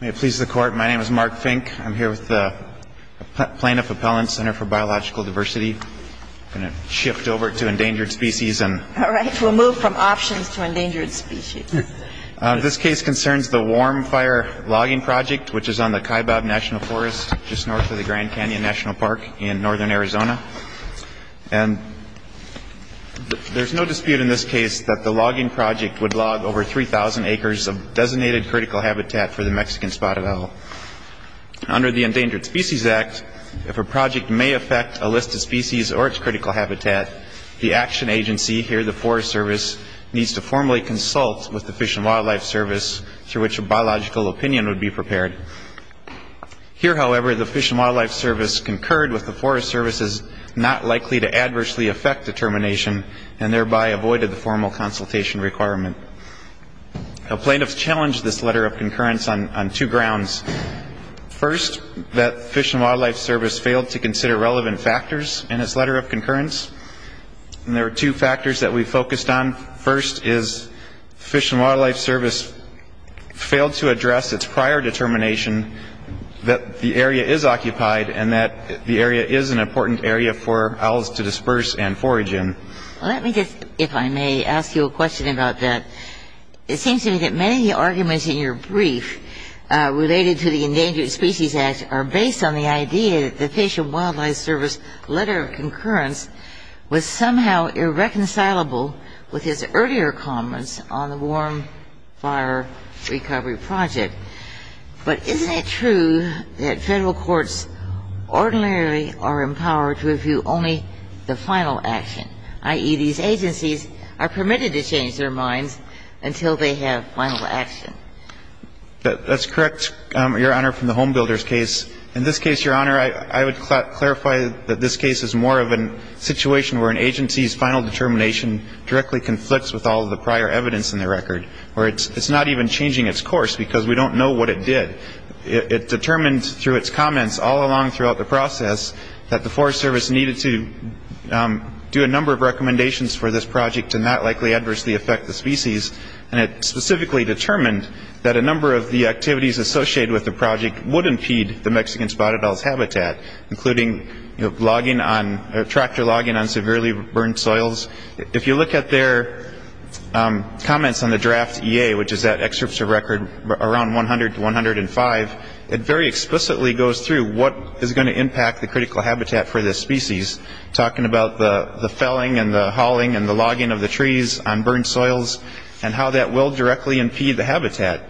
May it please the Court, my name is Mark Fink. I'm here with the Plaintiff Appellant Center for Biological Diversity. I'm going to shift over to endangered species and All right, we'll move from options to endangered species. This case concerns the Warm Fire Logging Project, which is on the Kaibab National Forest, just north of the Grand Canyon National Park in northern Arizona. And there's no dispute in this case that the logging project would log over 3,000 acres of designated critical habitat for the Mexican spotted owl. Under the Endangered Species Act, if a project may affect a listed species or its critical habitat, the action agency, here the Forest Service, needs to formally consult with the Fish and Wildlife Service, through which a biological opinion would be prepared. Here however, the Fish and Wildlife Service concurred with the Forest Service's not likely to adversely affect determination, and thereby avoided the formal consultation requirement. Now plaintiffs challenged this letter of concurrence on two grounds. First, that Fish and Wildlife Service failed to consider relevant factors in its letter of concurrence. And there are two factors that we focused on. First is Fish and Wildlife Service failed to address its prior determination that the area is occupied and that the area is an important area for owls to disperse and forage in. Let me just, if I may, ask you a question about that. It seems to me that many arguments in your brief related to the Endangered Species Act are based on the idea that the Fish and Wildlife Service letter of concurrence was somehow irreconcilable with its earlier comments on the Warm Fire Recovery Project. But isn't it true that Federal courts ordinarily are empowered to review only the final action, i.e., these agencies are permitted to change their minds until they have final action? That's correct, Your Honor, from the Homebuilders case. In this case, Your Honor, I would clarify that this case is more of a situation where an agency's final determination directly conflicts with all of the prior evidence in the record, where it's not even changing its course because we don't know what it did. It determined through its comments all along throughout the process that the Forest Service needed to do a number of recommendations for this project to not likely adversely affect the species, and it specifically determined that a number of the activities associated with the project would impede the Mexican spotted owl's habitat, including tractor logging on severely burned soils. If you look at their comments on the draft EA, which is that excerpt of record around 100 to 105, it very explicitly goes through what is going to impact the critical habitat for this species, talking about the felling and the hauling and the logging of the trees on burned soils and how that will directly impede the habitat.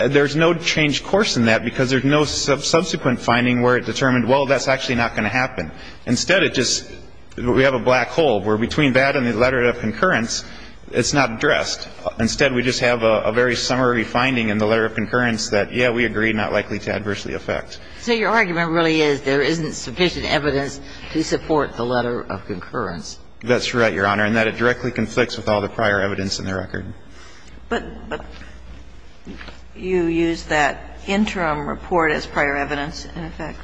There's no changed course in that because there's no subsequent finding where it determined, well, that's actually not going to happen. Instead, it just we have a black hole where between that and the letter of concurrence, it's not addressed. Instead, we just have a very summary finding in the letter of concurrence that, yeah, we agree, not likely to adversely affect. So your argument really is there isn't sufficient evidence to support the letter of concurrence. That's right, Your Honor, and that it directly conflicts with all the prior evidence in the record. But you use that interim report as prior evidence, in effect?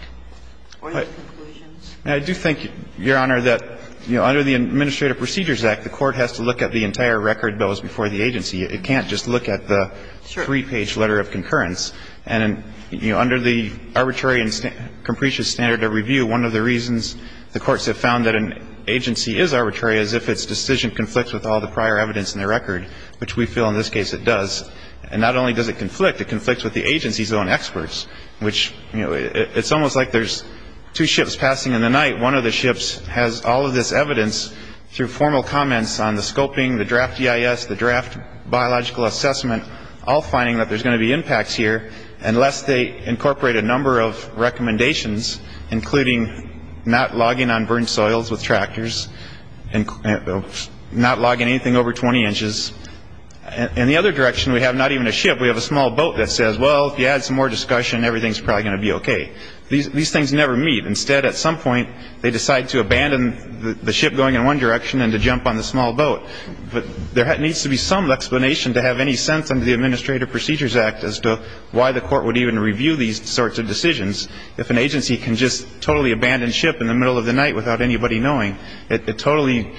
I do think, Your Honor, that, you know, under the Administrative Procedures Act, the court has to look at the entire record that was before the agency. It can't just look at the three-page letter of concurrence. And, you know, under the arbitrary and capricious standard of review, one of the reasons the courts have found that an agency is arbitrary is if its decision conflicts with all the prior evidence in the record, which we feel in this case it does. And not only does it conflict, it conflicts with the agency's own experts, which, you know, it's almost like there's two ships passing in the night. One of the ships has all of this evidence through formal comments on the scoping, the draft EIS, the draft biological assessment, all finding that there's going to be impacts here unless they incorporate a number of recommendations, including not logging on burnt soils with tractors and not logging anything over 20 inches. In the other direction, we have not even a ship. We have a small boat that says, well, if you add some more discussion, everything's probably going to be okay. These things never meet. Instead, at some point, they decide to abandon the ship going in one direction and to jump on the small boat. But there needs to be some explanation to have any sense under the Administrative Procedures Act as to why the court would even review these sorts of decisions if an agency can just totally abandon ship in the middle of the night without anybody knowing. It totally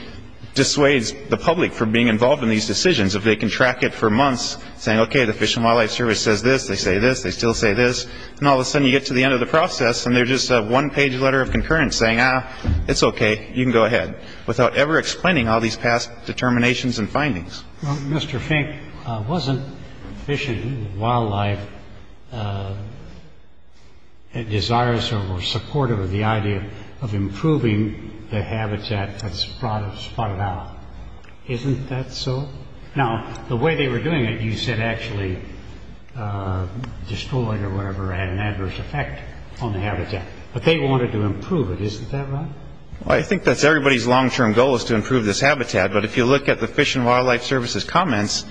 dissuades the public from being involved in these decisions. If they can track it for months saying, okay, the Fish and Wildlife Service says this, they say this, they still say this, and all of a sudden you get to the end of the process and there's just a one-page letter of concurrence saying, ah, it's okay, you can go ahead, without ever explaining all these past determinations and findings. Well, Mr. Fink, wasn't Fish and Wildlife desirous or supportive of the idea of improving the habitat that's spotted out? Isn't that so? Now, the way they were doing it, you said actually destroyed or whatever had an adverse effect on the habitat. But they wanted to improve it. Isn't that right? Well, I think that's everybody's long-term goal is to improve this habitat. But if you look at the Fish and Wildlife Service's comments,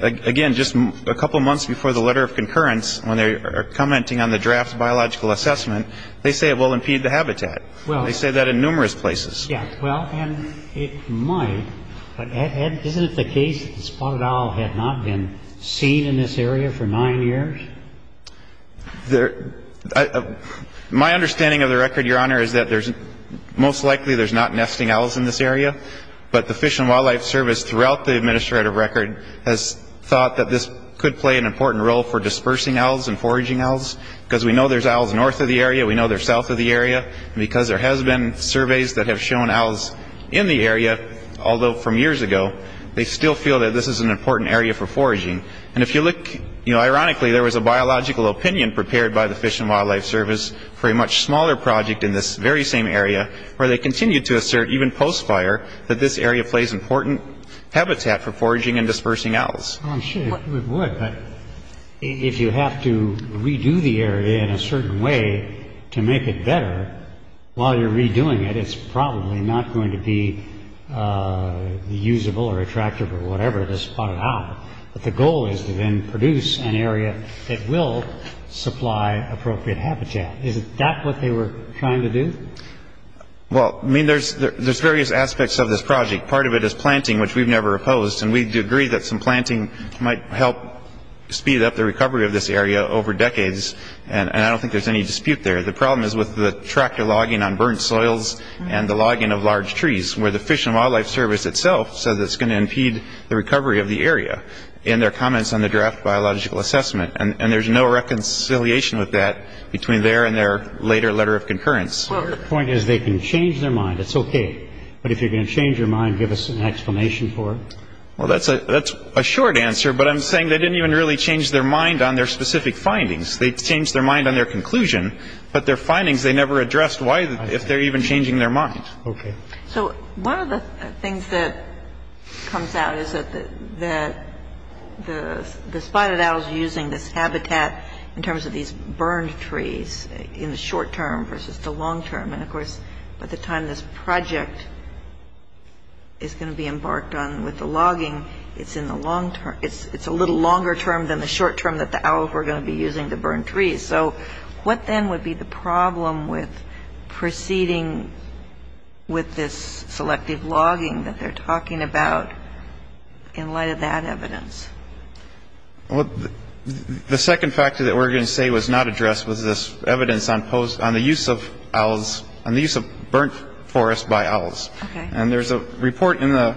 again, just a couple months before the letter of concurrence when they are commenting on the draft biological assessment, they say it will impede the habitat. They say that in numerous places. Well, and it might. But Ed, isn't it the case that the spotted owl had not been seen in this area for nine years? My understanding of the record, Your Honor, is that most likely there's not nesting owls in this area. But the Fish and Wildlife Service throughout the administrative record has thought that this could play an important role for dispersing owls and foraging owls because we know there's owls north of the area, we know there's south of the area. And because there has been surveys that have shown owls in the area, although from years ago, they still feel that this is an important area for foraging. And if you look, ironically, there was a biological opinion prepared by the Fish and Wildlife Service for a much smaller project in this very same area where they continued to assert, even post-fire, that this area plays important habitat for foraging and dispersing owls. I'm sure it would, but if you have to redo the area in a certain way to make it better, while you're redoing it, it's probably not going to be usable or attractive or whatever, this spotted owl. But the goal is to then produce an area that will supply appropriate habitat. Is that what they were trying to do? Well, I mean, there's various aspects of this project. Part of it is planting, which we've never opposed. And we do agree that some planting might help speed up the recovery of this area over decades. And I don't think there's any dispute there. The problem is with the tractor logging on burnt soils and the logging of large trees, where the Fish and Wildlife Service itself says it's going to impede the recovery of the area in their comments on the draft biological assessment. And there's no reconciliation with that between their and their later letter of concurrence. Well, the point is they can change their mind. It's OK. But if you're going to change your mind, give us an explanation for it. Well, that's a short answer. But I'm saying they didn't even really change their mind on their specific findings. They changed their mind on their conclusion. But their findings, they never addressed why, if they're even changing their mind. OK. So one of the things that comes out is that the spotted owl is using this habitat in terms of these burned trees in the short term versus the long term. And, of course, by the time this project is going to be embarked on with the logging, it's in the long term. It's a little longer term than the short term that the owls were going to be using the burned trees. So what then would be the problem with proceeding with this selective logging that they're talking about in light of that evidence? Well, the second factor that we're going to say was not addressed was this evidence on the use of owls, on the use of burnt forest by owls. And there's a report in the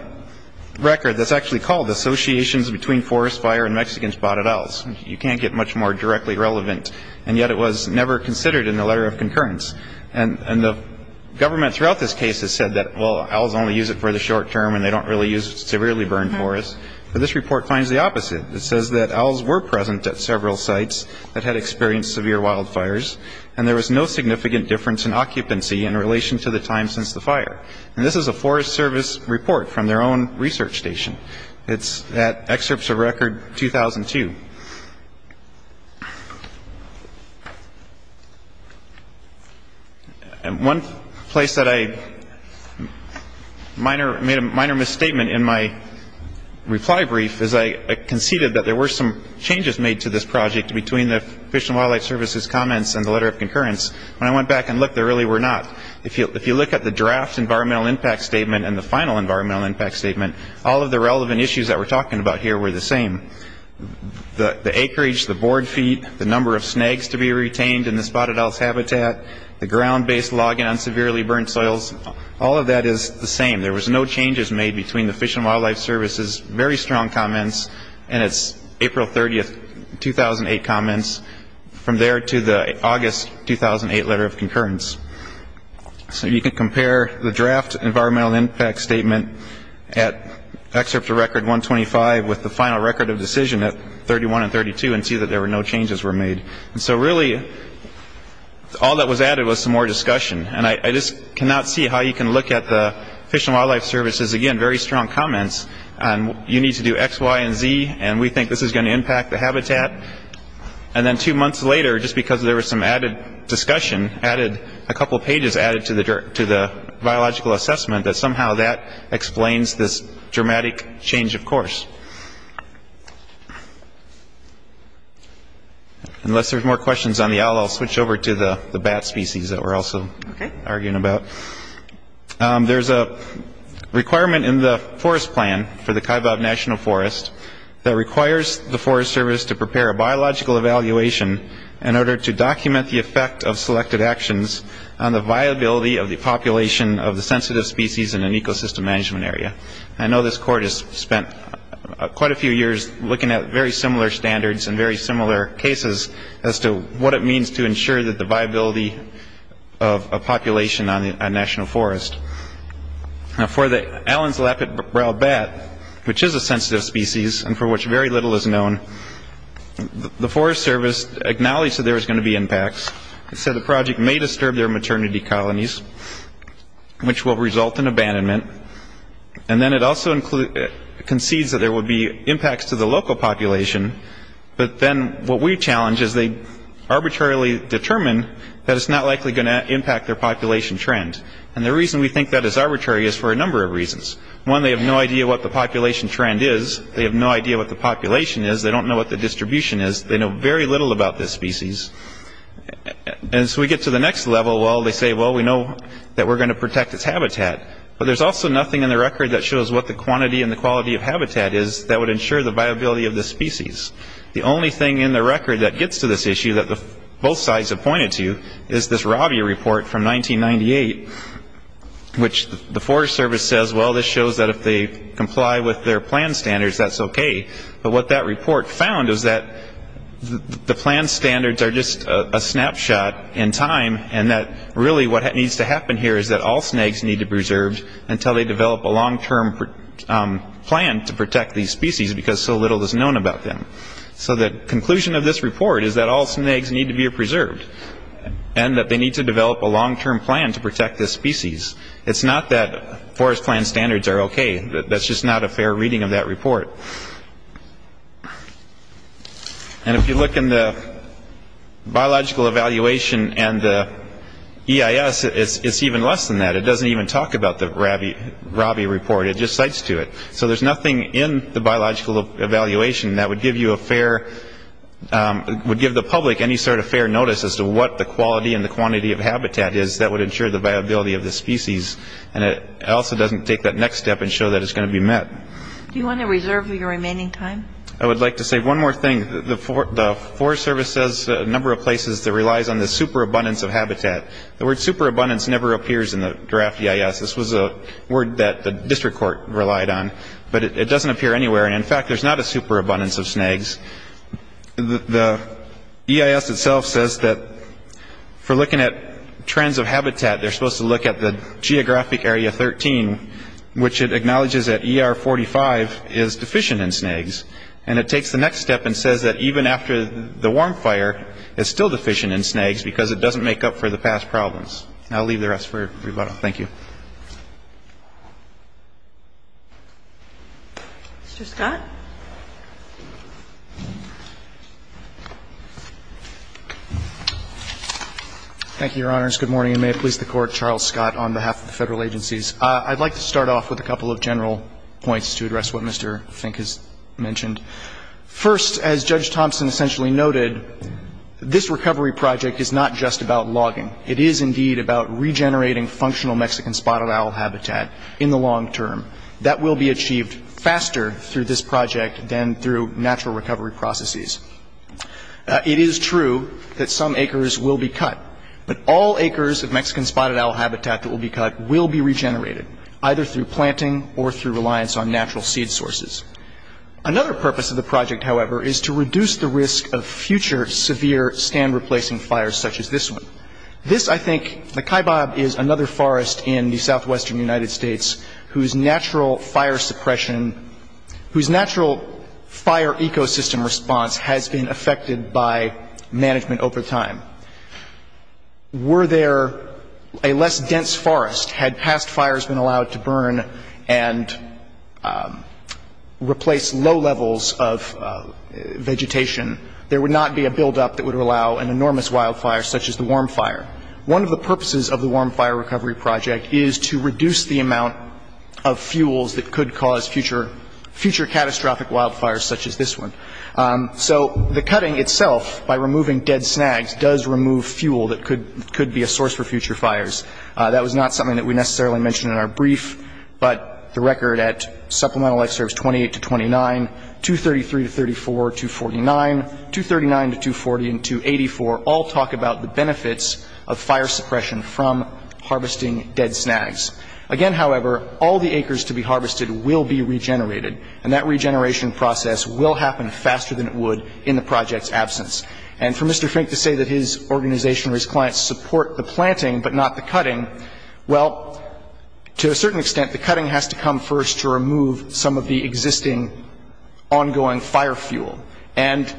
record that's actually called Associations Between Forest Fire and Mexicans Spotted Owls. You can't get much more directly relevant. And yet it was never considered in the letter of concurrence. And the government throughout this case has said that, well, owls only use it for the short term and they don't really use severely burned forest. But this report finds the opposite. It says that owls were present at several sites that had experienced severe wildfires and there was no significant difference in occupancy in relation to the time since the fire. And this is a Forest Service report from their own research station. It's at Excerpts of Record 2002. And one place that I made a minor misstatement in my reply brief is I conceded that there were some changes made to this project between the Fish and Wildlife Service's comments and the letter of concurrence. When I went back and looked, there really were not. If you look at the draft environmental impact statement and the final environmental impact statement, all of the relevant issues that we're talking about here were the same. The acreage, the board feet, the number of snags to be retained in the spotted owls' habitat, the ground-based logging on severely burned soils, all of that is the same. There was no changes made between the Fish and Wildlife Service's very strong comments and its April 30, 2008 comments, from there to the August 2008 letter of concurrence. So you can compare the draft environmental impact statement at Excerpts of Record 125 with the final record of decision at 31 and 32 and see that there were no changes were made. And so really, all that was added was some more discussion. And I just cannot see how you can look at the Fish and Wildlife Service's, again, very strong comments on you need to do X, Y, and Z, and we think this is going to impact the habitat. And then two months later, just because there was some added discussion, a couple pages added to the biological assessment, that somehow that explains this dramatic change of course. Unless there's more questions on the owl, I'll switch over to the bat species that we're also arguing about. There's a requirement in the forest plan for the Kaibab National Forest that requires the Forest Service to prepare a biological evaluation in order to document the effect of selected actions on the viability of the population of the sensitive species in an ecosystem management area. I know this court has spent quite a few years looking at very similar standards and very similar cases as to what it means to ensure that the viability of a population on a national forest. Now for the Allens Lapid Brow bat, which is a sensitive species and for which very little is known, the Forest Service acknowledged that there was going to be impacts. It said the project may disturb their maternity colonies, which will result in abandonment. And then it also concedes that there will be impacts to the local population, but then what we challenge is they arbitrarily determine that it's not likely going to impact their population trend. And the reason we think that is arbitrary is for a number of reasons. One, they have no idea what the population trend is. They have no idea what the population is. They don't know what the distribution is. They know very little about this species. As we get to the next level, well, they say, well, we know that we're going to protect this habitat. But there's also nothing in the record that shows what the quantity and the quality of habitat is that would ensure the viability of the species. The only thing in the record that gets to this issue that both sides have pointed to is this Rabia report from 1998, which the Forest Service says, well, this shows that if they comply with their plan standards, that's okay. But what that report found is that the plan standards are just a snapshot in time and that really what needs to happen here is that all snags need to be preserved until they develop a long-term plan to protect these species because so little is known about them. So the conclusion of this report is that all snags need to be preserved and that they need to develop a long-term plan to protect this species. It's not that forest plan standards are okay. That's just not a fair reading of that report. And if you look in the biological evaluation and the EIS, it's even less than that. It doesn't even talk about the Rabia report. It just cites to it. So there's nothing in the biological evaluation that would give the public any sort of fair notice as to what the quality and the quantity of habitat is that would ensure the viability of the species. And it also doesn't take that next step and show that it's going to be met. Do you want to reserve your remaining time? I would like to say one more thing. The Forest Service says a number of places that relies on the superabundance of habitat. The word superabundance never appears in the draft EIS. This was a word that the district court relied on. But it doesn't appear anywhere. And, in fact, there's not a superabundance of snags. The EIS itself says that for looking at trends of habitat, they're supposed to look at the geographic area 13, which it acknowledges that ER 45 is deficient in snags. And it takes the next step and says that even after the warm fire, it's still deficient in snags because it doesn't make up for the past problems. And I'll leave the rest for rebuttal. Thank you. Mr. Scott. Thank you, Your Honors. Good morning. And may it please the Court, Charles Scott on behalf of the federal agencies. I'd like to start off with a couple of general points to address what Mr. Fink has mentioned. First, as Judge Thompson essentially noted, this recovery project is not just about logging. It is indeed about regenerating functional Mexican spotted owl habitat in the long term. That will be achieved faster through this project than through natural recovery processes. It is true that some acres will be cut. But all acres of Mexican spotted owl habitat that will be cut will be regenerated, either through planting or through reliance on natural seed sources. Another purpose of the project, however, is to reduce the risk of future severe stand-replacing fires such as this one. This, I think, the Kaibab is another forest in the southwestern United States whose natural fire suppression, whose natural fire ecosystem response has been affected by management over time. Were there a less dense forest, had past fires been allowed to burn and replace low levels of vegetation, there would not be a buildup that would allow an enormous wildfire such as the warm fire. One of the purposes of the warm fire recovery project is to reduce the amount of fuels that could cause future catastrophic wildfires such as this one. So the cutting itself, by removing dead snags, does remove fuel that could be a source for future fires. That was not something that we necessarily mentioned in our brief, but the record at Supplemental Excerpts 28 to 29, 233 to 34, 249, 239 to 240 and 284 all talk about the benefits of fire suppression from harvesting dead snags. Again, however, all the acres to be harvested will be regenerated, and that regeneration process will happen faster than it would in the project's absence. And for Mr. Fink to say that his organization or his clients support the planting but not the cutting, well, to a certain extent, the cutting has to come first to remove some of the existing ongoing fire fuel. And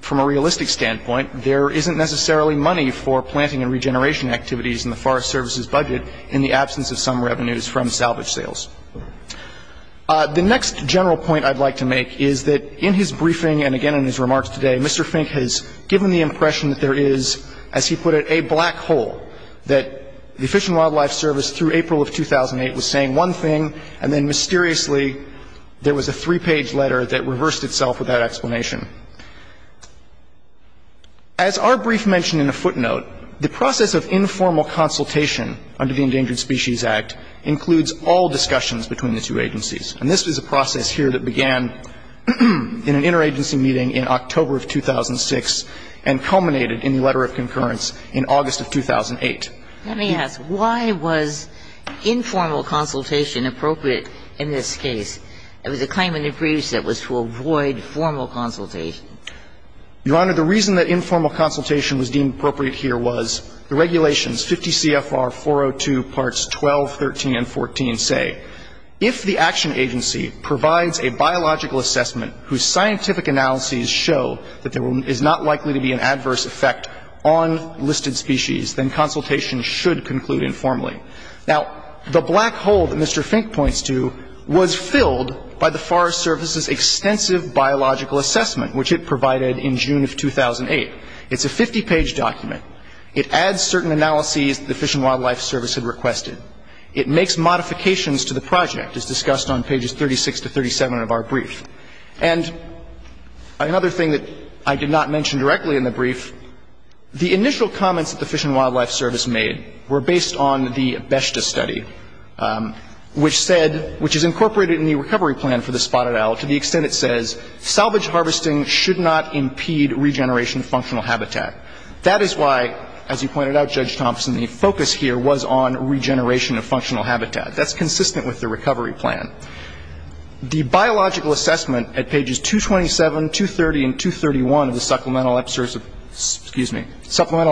from a realistic standpoint, there isn't necessarily money for planting and regeneration activities in the Forest Service's budget in the absence of some revenues from salvage sales. The next general point I'd like to make is that in his briefing and again in his remarks today, Mr. Fink has given the impression that there is, as he put it, a black hole, that the Fish and Wildlife Service through April of 2008 was saying one thing, and then mysteriously there was a three-page letter that reversed itself with that explanation. As our brief mentioned in a footnote, the process of informal consultation under the Endangered Species Act includes all discussions between the two agencies. And this was a process here that began in an interagency meeting in October of 2006 and culminated in the letter of concurrence in August of 2008. Let me ask, why was informal consultation appropriate in this case? It was a claim in the briefs that was to avoid formal consultation. Your Honor, the reason that informal consultation was deemed appropriate here was the regulations, 50 CFR 402, parts 12, 13, and 14 say, if the action agency provides a biological assessment whose scientific analyses show that there is not likely to be an adverse effect on listed species, then consultation should conclude informally. Now, the black hole that Mr. Fink points to was filled by the Forest Service's extensive biological assessment, which it provided in June of 2008. It's a 50-page document. It adds certain analyses that the Fish and Wildlife Service had requested. It makes modifications to the project, as discussed on pages 36 to 37 of our brief. And another thing that I did not mention directly in the brief, the initial comments that the Fish and Wildlife Service made were based on the BESHTA study, which said, which is incorporated in the recovery plan for the spotted owl to the extent it says, salvage harvesting should not impede regeneration of functional habitat. That is why, as you pointed out, Judge Thompson, the focus here was on regeneration of functional habitat. That's consistent with the recovery plan. The biological assessment at pages 227, 230, and 231 of the Supplemental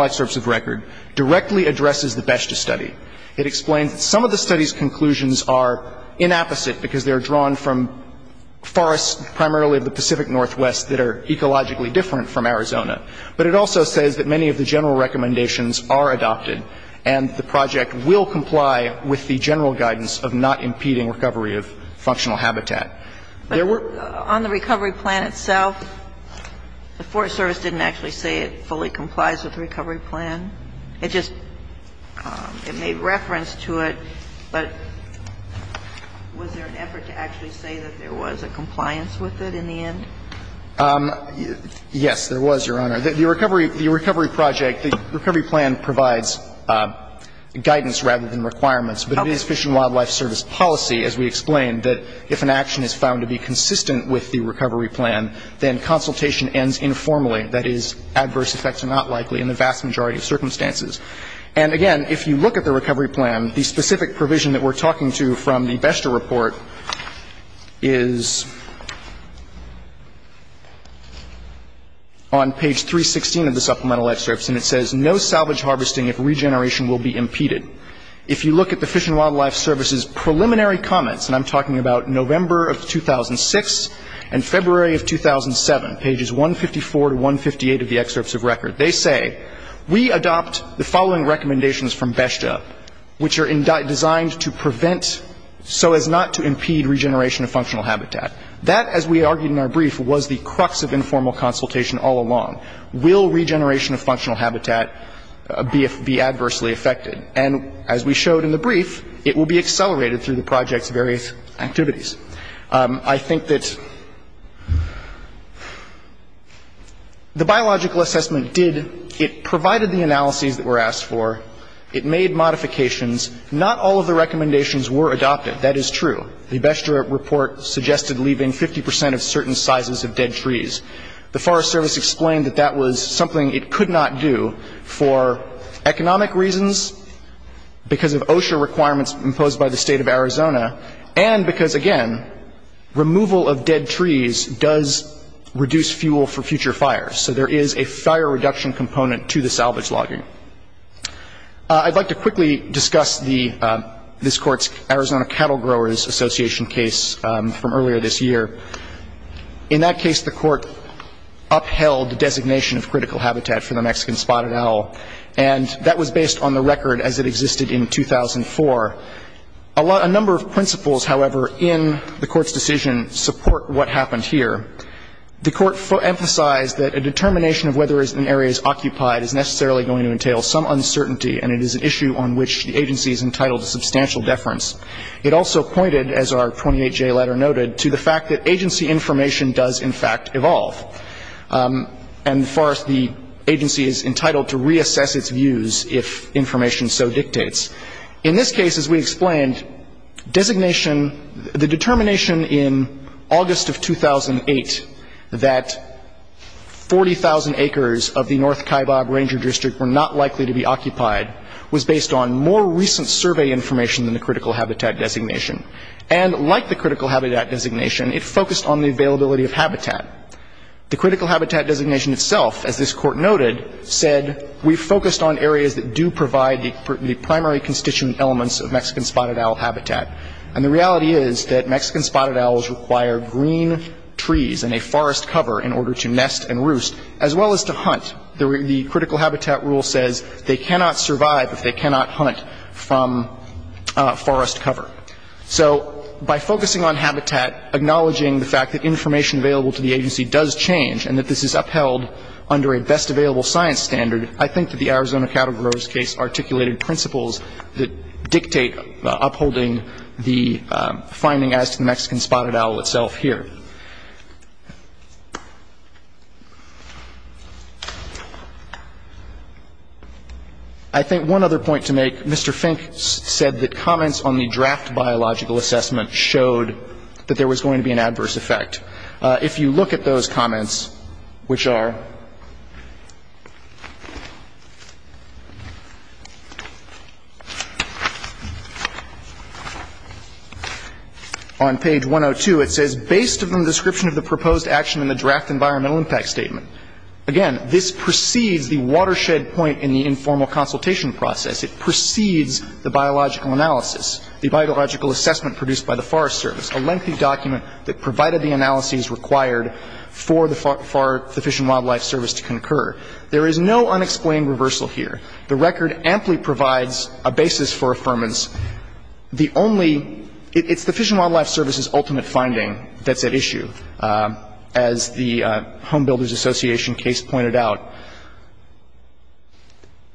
Excerpts of Record directly addresses the BESHTA study. It explains that some of the study's conclusions are inapposite because they are drawn from forests primarily of the Pacific Northwest that are ecologically different from Arizona. But it also says that many of the general recommendations are adopted and the project will comply with the general guidance of not impeding recovery of functional habitat. There were... But on the recovery plan itself, the Forest Service didn't actually say it fully complies with the recovery plan. It just made reference to it, but was there an effort to actually say that there was a compliance with it in the end? Yes, there was, Your Honor. The recovery project, the recovery plan provides guidance rather than requirements. But it is Fish and Wildlife Service policy, as we explained, that if an action is found to be consistent with the recovery plan, then consultation ends informally. That is, adverse effects are not likely in the vast majority of circumstances. And again, if you look at the recovery plan, the specific provision that we're talking to from the BESHDA report is on page 316 of the supplemental excerpts, and it says, no salvage harvesting if regeneration will be impeded. If you look at the Fish and Wildlife Service's preliminary comments, and I'm talking about November of 2006 and February of 2007, pages 154 to 158 of the excerpts of record, they say, we adopt the following recommendations from BESHDA, which are designed to prevent so as not to impede regeneration of functional habitat. That, as we argued in our brief, was the crux of informal consultation all along. Will regeneration of functional habitat be adversely affected? And as we showed in the brief, it will be accelerated through the project's various activities. I think that the biological assessment did, it provided the analyses that were asked for. It made modifications. Not all of the recommendations were adopted. That is true. The BESHDA report suggested leaving 50 percent of certain sizes of dead trees. The Forest Service explained that that was something it could not do for economic reasons, because of OSHA requirements imposed by the State of Arizona, and because, again, removal of dead trees does reduce fuel for future fires. So there is a fire reduction component to the salvage logging. I'd like to quickly discuss this Court's Arizona Cattle Growers Association case from earlier this year. In that case, the Court upheld the designation of critical habitat for the Mexican spotted owl, and that was based on the record as it existed in 2004. A number of principles, however, in the Court's decision support what happened here. The Court emphasized that a determination of whether an area is occupied is necessarily going to entail some uncertainty, and it is an issue on which the agency is entitled to substantial deference. It also pointed, as our 28J letter noted, to the fact that agency information does, in fact, evolve, and the agency is entitled to reassess its views if information so dictates. In this case, as we explained, designation — the determination in August of 2008 that 40,000 acres of the North Kaibab Ranger District were not likely to be occupied was based on more recent survey information than the critical habitat designation. And like the critical habitat designation, it focused on the availability of habitat. The critical habitat designation itself, as this Court noted, said, we focused on areas that do provide the primary constituent elements of Mexican spotted owl habitat. And the reality is that Mexican spotted owls require green trees and a forest cover in order to nest and roost, as well as to hunt. The critical habitat rule says they cannot survive if they cannot hunt from forest cover. So by focusing on habitat, acknowledging the fact that information available to the agency does change and that this is upheld under a best available science standard, I think that the Arizona Cattle Grower's case articulated principles that dictate upholding the finding as to the Mexican spotted owl itself here. I think one other point to make. Mr. Fink said that comments on the draft biological assessment showed that there was going to be an adverse effect. If you look at those comments, which are on page 102, it says, based on the description of the proposed action in the draft environmental impact statement. Again, this precedes the watershed point in the informal consultation process. It precedes the biological analysis, the biological assessment produced by the Forest Service, a lengthy document that provided the analyses required for the Fish and Wildlife Service to concur. There is no unexplained reversal here. The record amply provides a basis for affirmance. The only ‑‑ it's the Fish and Wildlife Service's ultimate finding that's at issue, as the Home Builders Association case pointed out.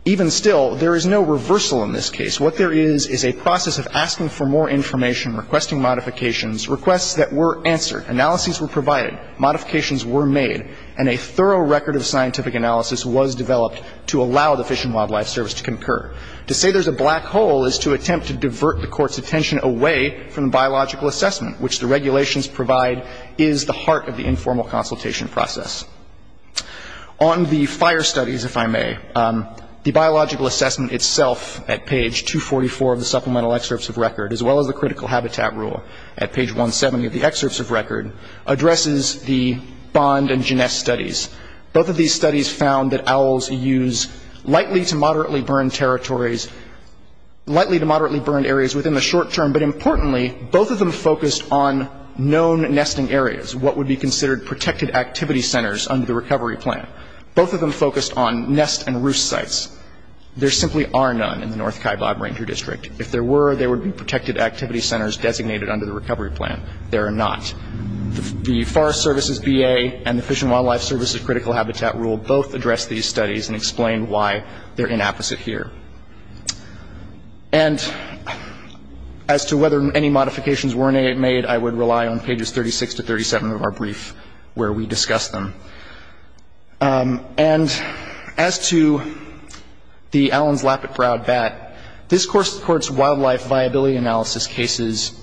Even still, there is no reversal in this case. What there is is a process of asking for more information, requesting modifications, requests that were answered, analyses were provided, modifications were made, and a thorough record of scientific analysis was developed to allow the Fish and Wildlife Service to concur. To say there's a black hole is to attempt to divert the Court's attention away from the biological assessment, which the regulations provide is the heart of the informal consultation process. On the fire studies, if I may, the biological assessment itself at page 244 of the Supplemental Excerpts of Record, as well as the Critical Habitat Rule at page 170 of the Excerpts of Record, addresses the Bond and Ginesse studies. Both of these studies found that owls use lightly to moderately burned territories, lightly to moderately burned areas within the short term, but importantly, both of them known nesting areas, what would be considered protected activity centers under the recovery plan. Both of them focused on nest and roost sites. There simply are none in the North Kaibab Ranger District. If there were, there would be protected activity centers designated under the recovery plan. There are not. The Forest Service's BA and the Fish and Wildlife Service's Critical Habitat Rule both address these studies and explain why they're inapposite here. And as to whether any modifications were made, I would rely on pages 36 to 37 of our brief where we discuss them. And as to the Allen's Lapid Proud bat, this Court's wildlife viability analysis cases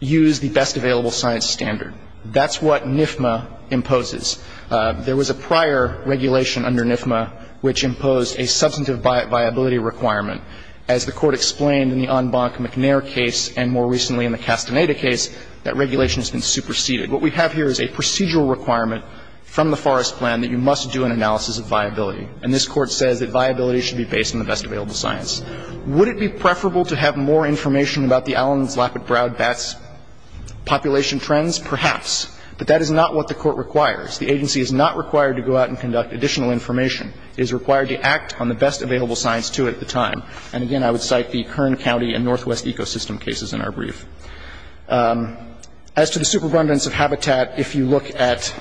use the best available science standard. That's what NIFMA imposes. There was a prior regulation under NIFMA which imposed a substantive viability requirement. As the Court explained in the Onbonk McNair case and more recently in the Castaneda case, that regulation has been superseded. What we have here is a procedural requirement from the Forest Plan that you must do an analysis of viability. And this Court says that viability should be based on the best available science. Would it be preferable to have more information about the Allen's Lapid Proud bat's population trends? Perhaps. But that is not what the Court requires. The agency is not required to go out and conduct additional information. It is required to act on the best available science to it at the time. And again, I would cite the Kern County and Northwest Ecosystem cases in our brief. As to the superabundance of habitat, if you look at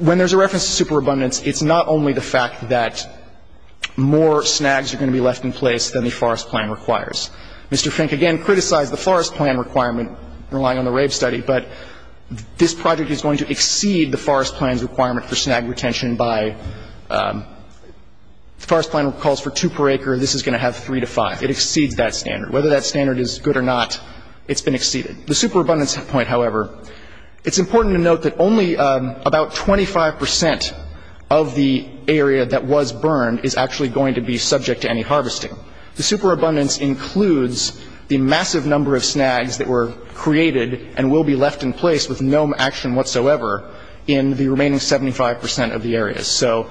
when there's a reference to superabundance, it's not only the fact that more snags are going to be left in place than the Forest Plan requires. Mr. Fink, again, criticized the Forest Plan requirement, relying on the RAVE study. But this project is going to exceed the Forest Plan's requirement for snag retention by the Forest Plan calls for two per acre. This is going to have three to five. It exceeds that standard. Whether that standard is good or not, it's been exceeded. The superabundance point, however, it's important to note that only about 25 percent of the area that was burned is actually going to be subject to any harvesting. The superabundance includes the massive number of snags that were created and will be left in place with no action whatsoever in the remaining 75 percent of the area. So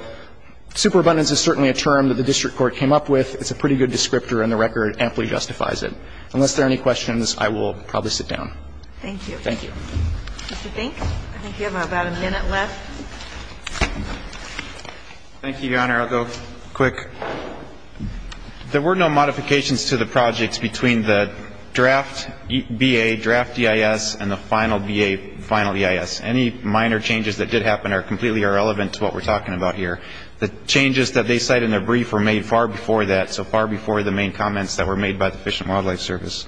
superabundance is certainly a term that the district court came up with. It's a pretty good descriptor and the record amply justifies it. Unless there are any questions, I will probably sit down. Thank you. Thank you. Mr. Fink, I think you have about a minute left. Thank you, Your Honor. I'll go quick. There were no modifications to the projects between the draft B.A., draft E.I.S., and the final B.A., final E.I.S. Any minor changes that did happen are completely irrelevant to what we're talking about here. The changes that they cite in their brief were made far before that, so far before the main comments that were made by the Fish and Wildlife Service.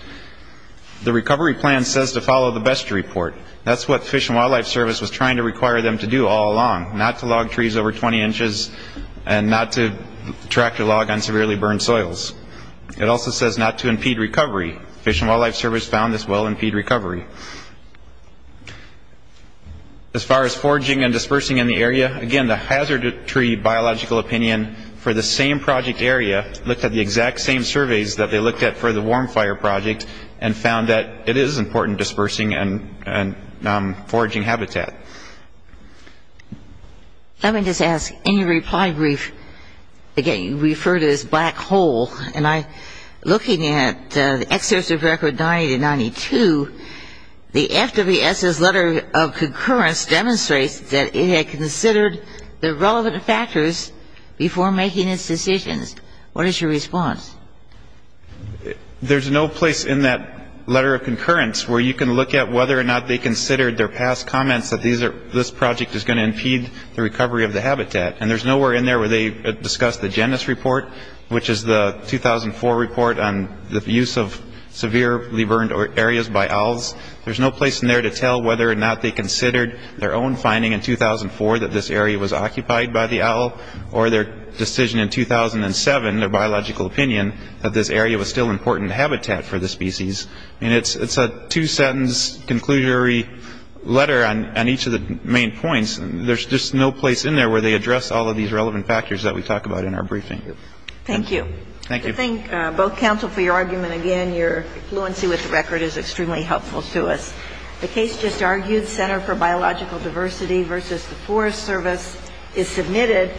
The recovery plan says to follow the best report. That's what Fish and Wildlife Service was trying to require them to do all along, not to log trees over 20 inches and not to track the log on severely burned soils. It also says not to impede recovery. Fish and Wildlife Service found this will impede recovery. As far as foraging and dispersing in the area, again, the hazard tree biological opinion for the same project area looked at the exact same surveys that they looked at for the Warm Fire project and found that it is important dispersing and foraging habitat. Let me just ask, in your reply brief, again, you refer to this black hole, and I'm looking at the excess of record 90 to 92. The FWS's letter of concurrence demonstrates that it had considered the relevant factors before making its decisions. What is your response? There's no place in that letter of concurrence where you can look at whether or not they considered their past comments that this project is going to impede the recovery of the habitat. And there's nowhere in there where they discussed the JANUS report, which is the 2004 report on the use of severely burned areas by owls. There's no place in there to tell whether or not they considered their own finding in 2004 that this area was occupied by the owl or their decision in 2007, their biological opinion, that this area was still important habitat for the species. And it's a two-sentence, conclusory letter on each of the main points. There's just no place in there where they address all of these relevant factors that we talk about in our briefing. Thank you. Thank you. I thank both counsel for your argument. Again, your fluency with the record is extremely helpful to us. The case just argued, Center for Biological Diversity versus the Forest Service is submitted.